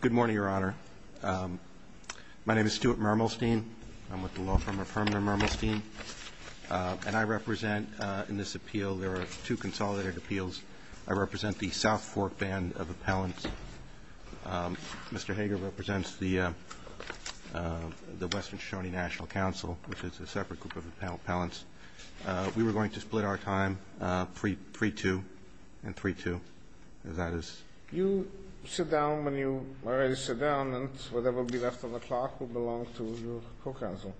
Good morning, Your Honor. My name is Stuart Mermelstein. I'm with the law firm of Herman and I represent in this appeal, there are two consolidated appeals. I represent the South Fork Band of Appellants. Mr. Hager represents the Western Shoshone National Council, which is a separate group of appellants. We were going to split our time 3-2 and 3-2. You sit down when you are ready to sit down and whatever will be left on the clock will belong to your co-counsel,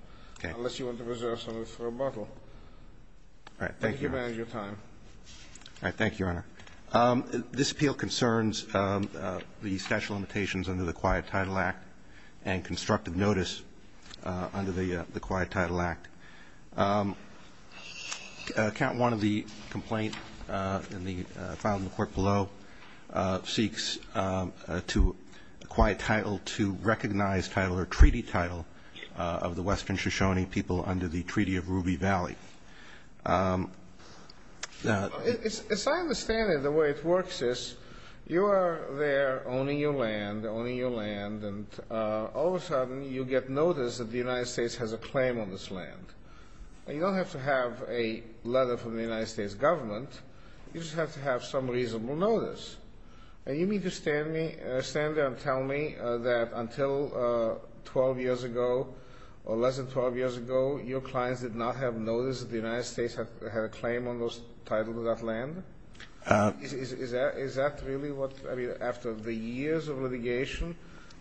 unless you want to reserve some of it for a bottle. Thank you for your time. All right. Thank you, Your Honor. This appeal concerns the statute of limitations under the Quiet Title Act and constructive notice under the Quiet Title Act. Accountant 1 of the complaint filed in the court below seeks to acquire title to recognize title or treaty title of the Western Shoshone people under the Treaty of Ruby Valley. As I understand it, the way it works is you are there owning your land, owning your land, and all of a sudden you get notice that the United States has a claim on this land. You don't have to have a letter from the United States government. You just have to have some reasonable notice. And you mean to stand there and tell me that until 12 years ago or less than 12 years ago, your clients did not have notice that the United States had a claim on those titles of that land? Is that really what, I mean, after the years of litigation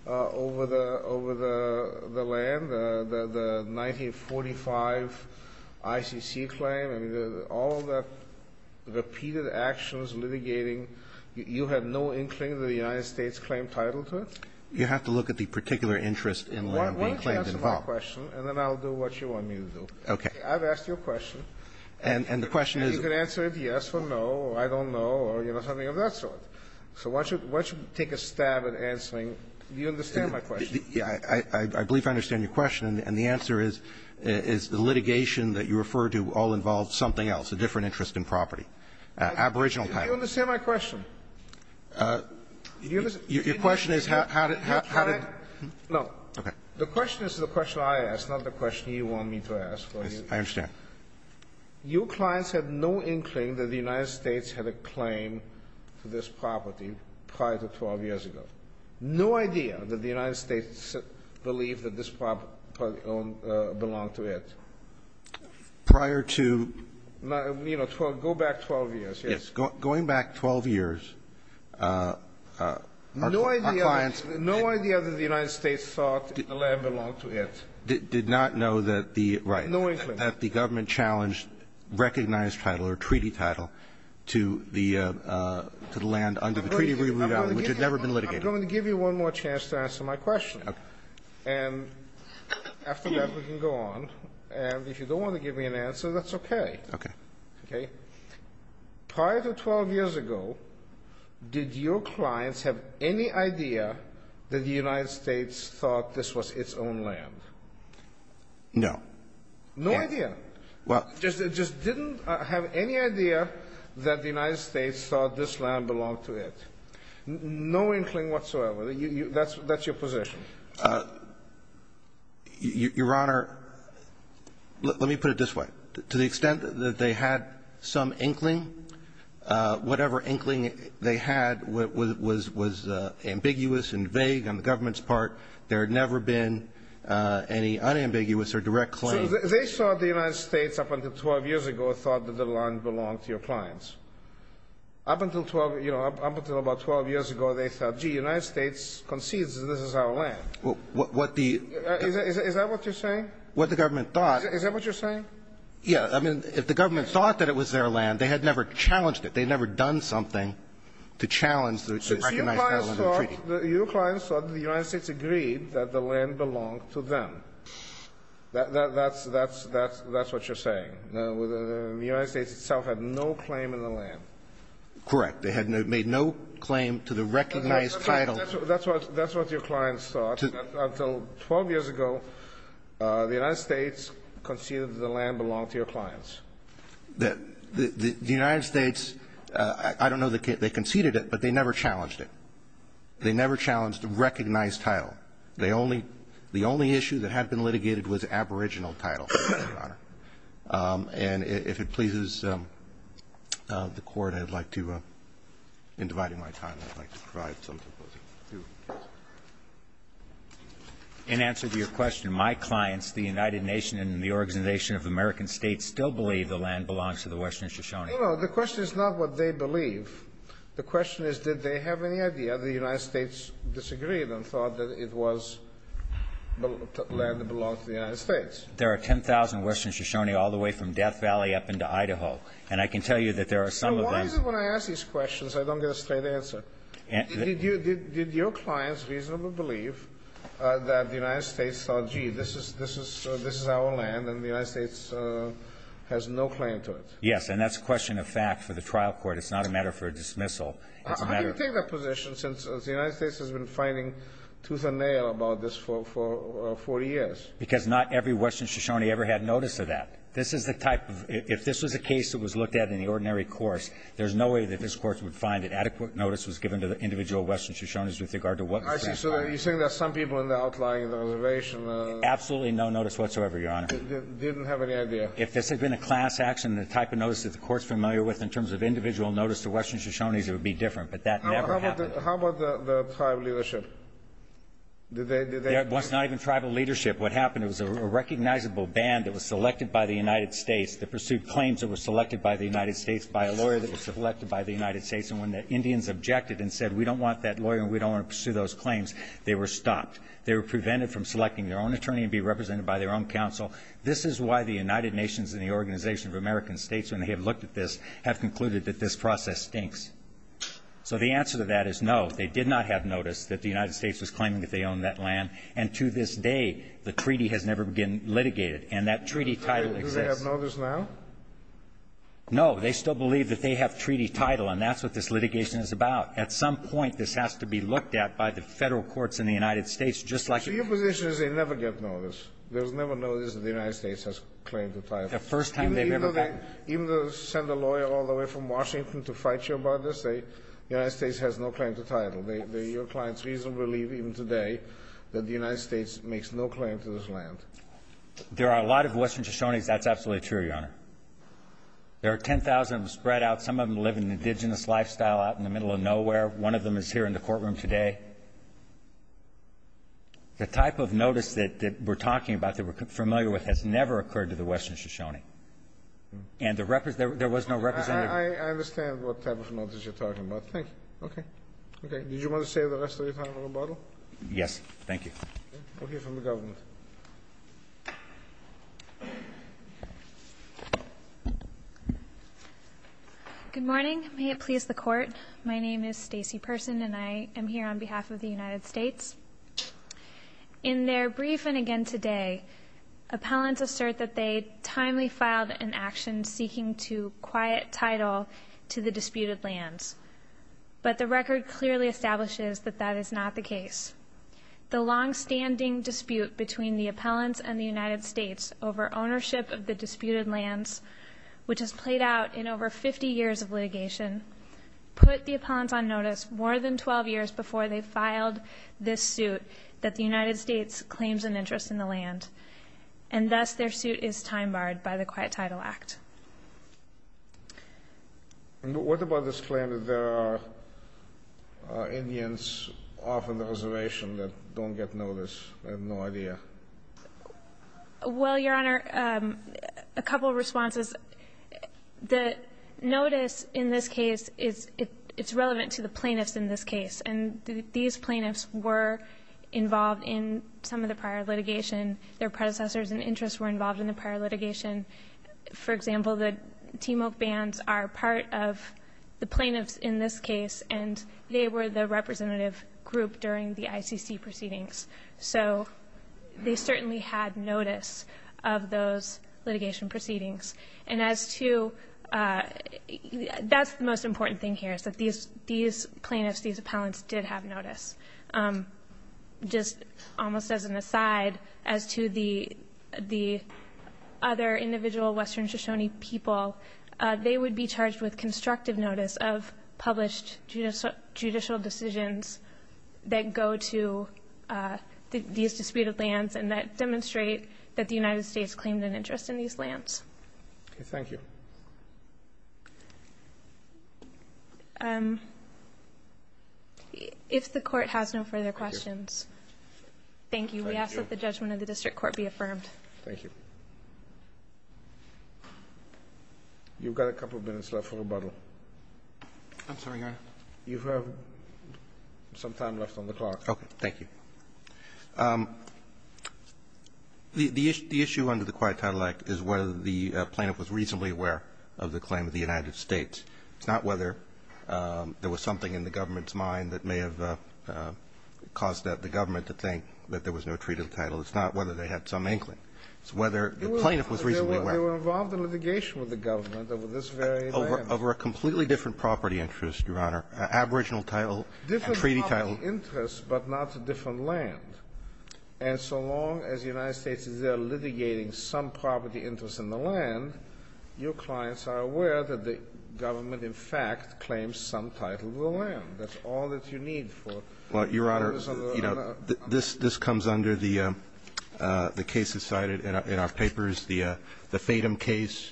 over the land, the 1945 ICC claim? I mean, all the repeated actions, litigating, you had no inkling that the United States claimed title to it? You have to look at the particular interest in land being claimed involved. Why don't you answer my question, and then I'll do what you want me to do. Okay. I've asked you a question. And the question is you can answer it yes or no or I don't know or, you know, something of that sort. So why don't you take a stab at answering? Do you understand my question? I believe I understand your question. And the answer is the litigation that you refer to all involves something else, a different interest in property. Aboriginal title. Do you understand my question? Your question is how did the client? No. Okay. The question is the question I asked, not the question you want me to ask. I understand. Your clients had no inkling that the United States had a claim to this property prior to 12 years ago. No idea that the United States believed that this property belonged to it. Prior to? You know, go back 12 years. Yes. Going back 12 years, our clients. No idea that the United States thought the land belonged to it. Did not know that the, right. Had no inkling. That the government challenged recognized title or treaty title to the land under the Treaty of Reroute Island, which had never been litigated. I'm going to give you one more chance to answer my question. Okay. And after that, we can go on. And if you don't want to give me an answer, that's okay. Okay. Okay. Prior to 12 years ago, did your clients have any idea that the United States thought this was its own land? No. No idea. Well. Just didn't have any idea that the United States thought this land belonged to it. No inkling whatsoever. That's your position. Your Honor, let me put it this way. To the extent that they had some inkling, whatever inkling they had was ambiguous and vague on the government's part. There had never been any unambiguous or direct claim. So they saw the United States up until 12 years ago thought that the land belonged to your clients. Up until 12, you know, up until about 12 years ago, they thought, gee, the United States concedes that this is our land. What the. Is that what you're saying? What the government thought. Is that what you're saying? Yeah. I mean, if the government thought that it was their land, they had never challenged it. They had never done something to challenge the recognized land under the treaty. Your client thought the United States agreed that the land belonged to them. That's what you're saying. The United States itself had no claim in the land. Correct. They had made no claim to the recognized title. That's what your client thought. Until 12 years ago, the United States conceded that the land belonged to your clients. The United States, I don't know that they conceded it, but they never challenged it. They never challenged the recognized title. They only the only issue that had been litigated was aboriginal title, Your Honor. And if it pleases the Court, I'd like to, in dividing my time, I'd like to provide something to you. In answer to your question, my clients, the United Nations and the Organization of American States, still believe the land belongs to the Western Shoshone. No, no. The question is not what they believe. The question is did they have any idea the United States disagreed and thought that it was land that belonged to the United States. There are 10,000 Western Shoshone all the way from Death Valley up into Idaho. And I can tell you that there are some of them. So why is it when I ask these questions I don't get a straight answer? Did your clients reasonably believe that the United States thought, gee, this is our land and the United States has no claim to it? And that's a question of fact for the trial court. It's not a matter for a dismissal. It's a matter of fact. How do you take that position since the United States has been finding tooth and nail about this for 40 years? Because not every Western Shoshone ever had notice of that. This is the type of ‑‑ if this was a case that was looked at in the ordinary course, there's no way that this Court would find that adequate notice was given to the individual Western Shoshones with regard to what was prescribed. I see. So you're saying there are some people in the outlying reservation. Absolutely no notice whatsoever, Your Honor. Didn't have any idea. If this had been a class action, the type of notice that the Court's familiar with in terms of individual notice to Western Shoshones, it would be different. But that never happened. How about the tribal leadership? Did they ‑‑ It was not even tribal leadership. What happened, it was a recognizable band that was selected by the United States to pursue claims that were selected by the United States by a lawyer that was selected by the United States. And when the Indians objected and said we don't want that lawyer and we don't want to pursue those claims, they were stopped. They were prevented from selecting their own attorney and be represented by their own counsel. This is why the United Nations and the Organization of American States, when they have looked at this, have concluded that this process stinks. So the answer to that is no. They did not have notice that the United States was claiming that they owned that land. And to this day, the treaty has never been litigated. And that treaty title exists. Do they have notice now? No. They still believe that they have treaty title, and that's what this litigation is about. At some point, this has to be looked at by the Federal courts in the United States, just like ‑‑ So your position is they never get notice. There was never notice that the United States has claimed the title. Even though they send a lawyer all the way from Washington to fight you about this, the United States has no claim to title. Your clients reasonably believe, even today, that the United States makes no claim to this land. There are a lot of western Shoshones. That's absolutely true, Your Honor. There are 10,000 spread out. Some of them live an indigenous lifestyle out in the middle of nowhere. One of them is here in the courtroom today. The type of notice that we're talking about, that we're familiar with, has never occurred to the western Shoshone. And there was no representative ‑‑ I understand what type of notice you're talking about. Thank you. Okay. Okay. Did you want to say the rest of your time or rebuttal? Yes. Thank you. Okay. We'll hear from the government. Good morning. May it please the Court. My name is Stacey Person, and I am here on behalf of the United States. In their brief, and again today, appellants assert that they timely filed an action seeking to quiet title to the disputed lands. But the record clearly establishes that that is not the case. The longstanding dispute between the appellants and the United States over ownership of the disputed lands, which has played out in over 50 years of litigation, put the appellants on notice more than 12 years before they filed this suit that the United States claims an interest in the land. And thus, their suit is time barred by the Quiet Title Act. What about this claim that there are Indians off on the reservation that don't get notice? I have no idea. Well, Your Honor, a couple of responses. The notice in this case, it's relevant to the plaintiffs in this case. And these plaintiffs were involved in some of the prior litigation. Their predecessors and interests were involved in the prior litigation. For example, the Timok bands are part of the plaintiffs in this case, and they were the representative group during the ICC proceedings. So they certainly had notice of those litigation proceedings. And as to the most important thing here is that these plaintiffs, these appellants, did have notice. Just almost as an aside, as to the other individual Western Shoshone people, they would be charged with constructive notice of published judicial decisions that go to these disputed lands and that demonstrate that the United States claimed an interest in these lands. Okay. Thank you. If the Court has no further questions. Thank you. We ask that the judgment of the District Court be affirmed. Thank you. You've got a couple of minutes left for rebuttal. I'm sorry, Your Honor. You have some time left on the clock. Okay. Thank you. The issue under the Quiet Title Act is whether the plaintiff was reasonably aware of the claim of the United States. It's not whether there was something in the government's mind that may have caused the government to think that there was no treat of the title. It's not whether they had some inkling. It's whether the plaintiff was reasonably aware. They were involved in litigation with the government over this very land. Over a completely different property interest, Your Honor. An aboriginal title, a treaty title. Different property interest, but not a different land. And so long as the United States is there litigating some property interest in the land, your clients are aware that the government, in fact, claims some title of the That's all that you need for a notice of the land. Well, Your Honor, you know, this comes under the cases cited in our papers, the Fatum case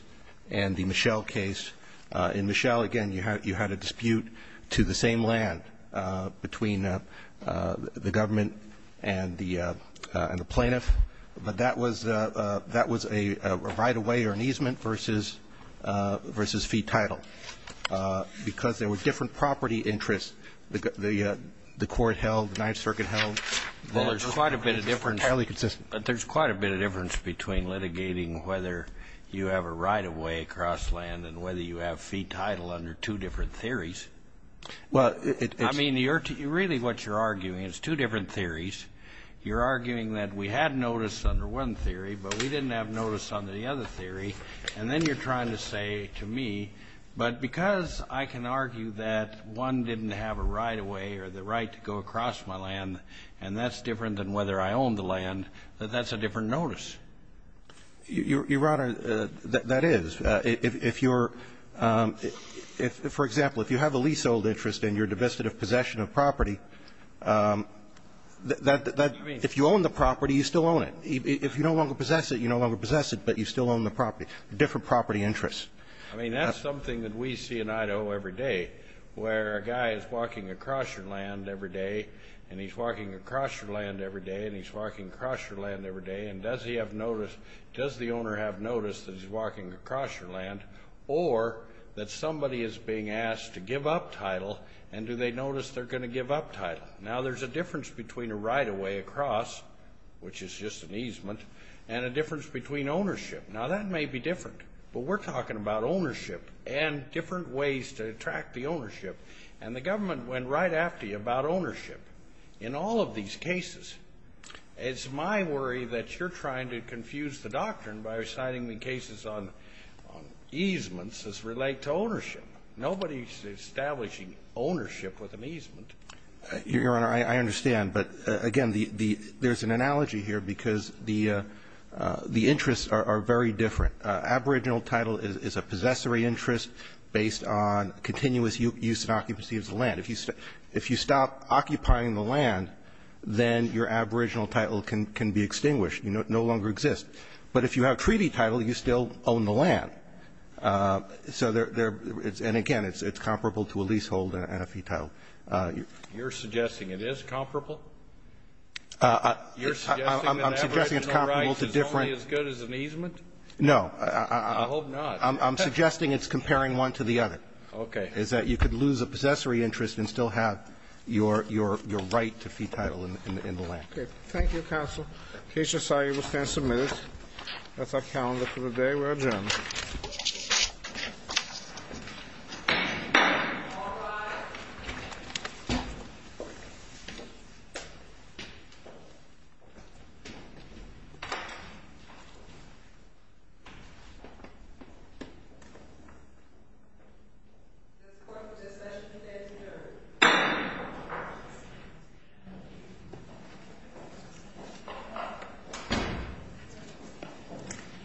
and the Mischel case. In Mischel, again, you had a dispute to the same land between the government and the plaintiff, but that was a right of way or an easement versus fee title because there were different property interests. The court held, the Ninth Circuit held. Well, there's quite a bit of difference. It's fairly consistent. But there's quite a bit of difference between litigating whether you have a right of way across land and whether you have fee title under two different theories. Well, it's --. I mean, really what you're arguing is two different theories. You're arguing that we had notice under one theory, but we didn't have notice under the other theory, and then you're trying to say to me, but because I can argue that one didn't have a right of way or the right to go across my land, and that's different than whether I own the land, that that's a different notice. Your Honor, that is. If you're ‑‑ for example, if you have a leasehold interest and you're divested of possession of property, that ‑‑ if you own the property, you still own it. If you no longer possess it, you no longer possess it, but you still own the property. Different property interests. I mean, that's something that we see in Idaho every day, where a guy is walking across your land every day, and he's walking across your land every day, and he's walking across your land every day, and does he have notice, does the owner have notice that he's walking across your land, or that somebody is being asked to give up title, and do they notice they're going to give up title? Now, there's a difference between a right of way across, which is just an easement, and a difference between ownership. Now, that may be different, but we're talking about ownership and different ways to attract the ownership. And the government went right after you about ownership. In all of these cases, it's my worry that you're trying to confuse the doctrine by citing the cases on easements as relate to ownership. Nobody is establishing ownership with an easement. Your Honor, I understand. But, again, the ‑‑ there's an analogy here because the interests are very different. Aboriginal title is a possessory interest based on continuous use and occupancy of the land. If you stop occupying the land, then your aboriginal title can be extinguished. It no longer exists. But if you have treaty title, you still own the land. So there ‑‑ and, again, it's comparable to a leasehold and a fee title. You're suggesting it is comparable? You're suggesting that aboriginal rights is only as good as an easement? No. I hope not. I'm suggesting it's comparing one to the other. Okay. Is that you could lose a possessory interest and still have your right to fee title in the land. Okay. Thank you, counsel. In case you're sorry, we'll stand some minutes. That's our calendar for the day. We're adjourned. Thank you. Thank you.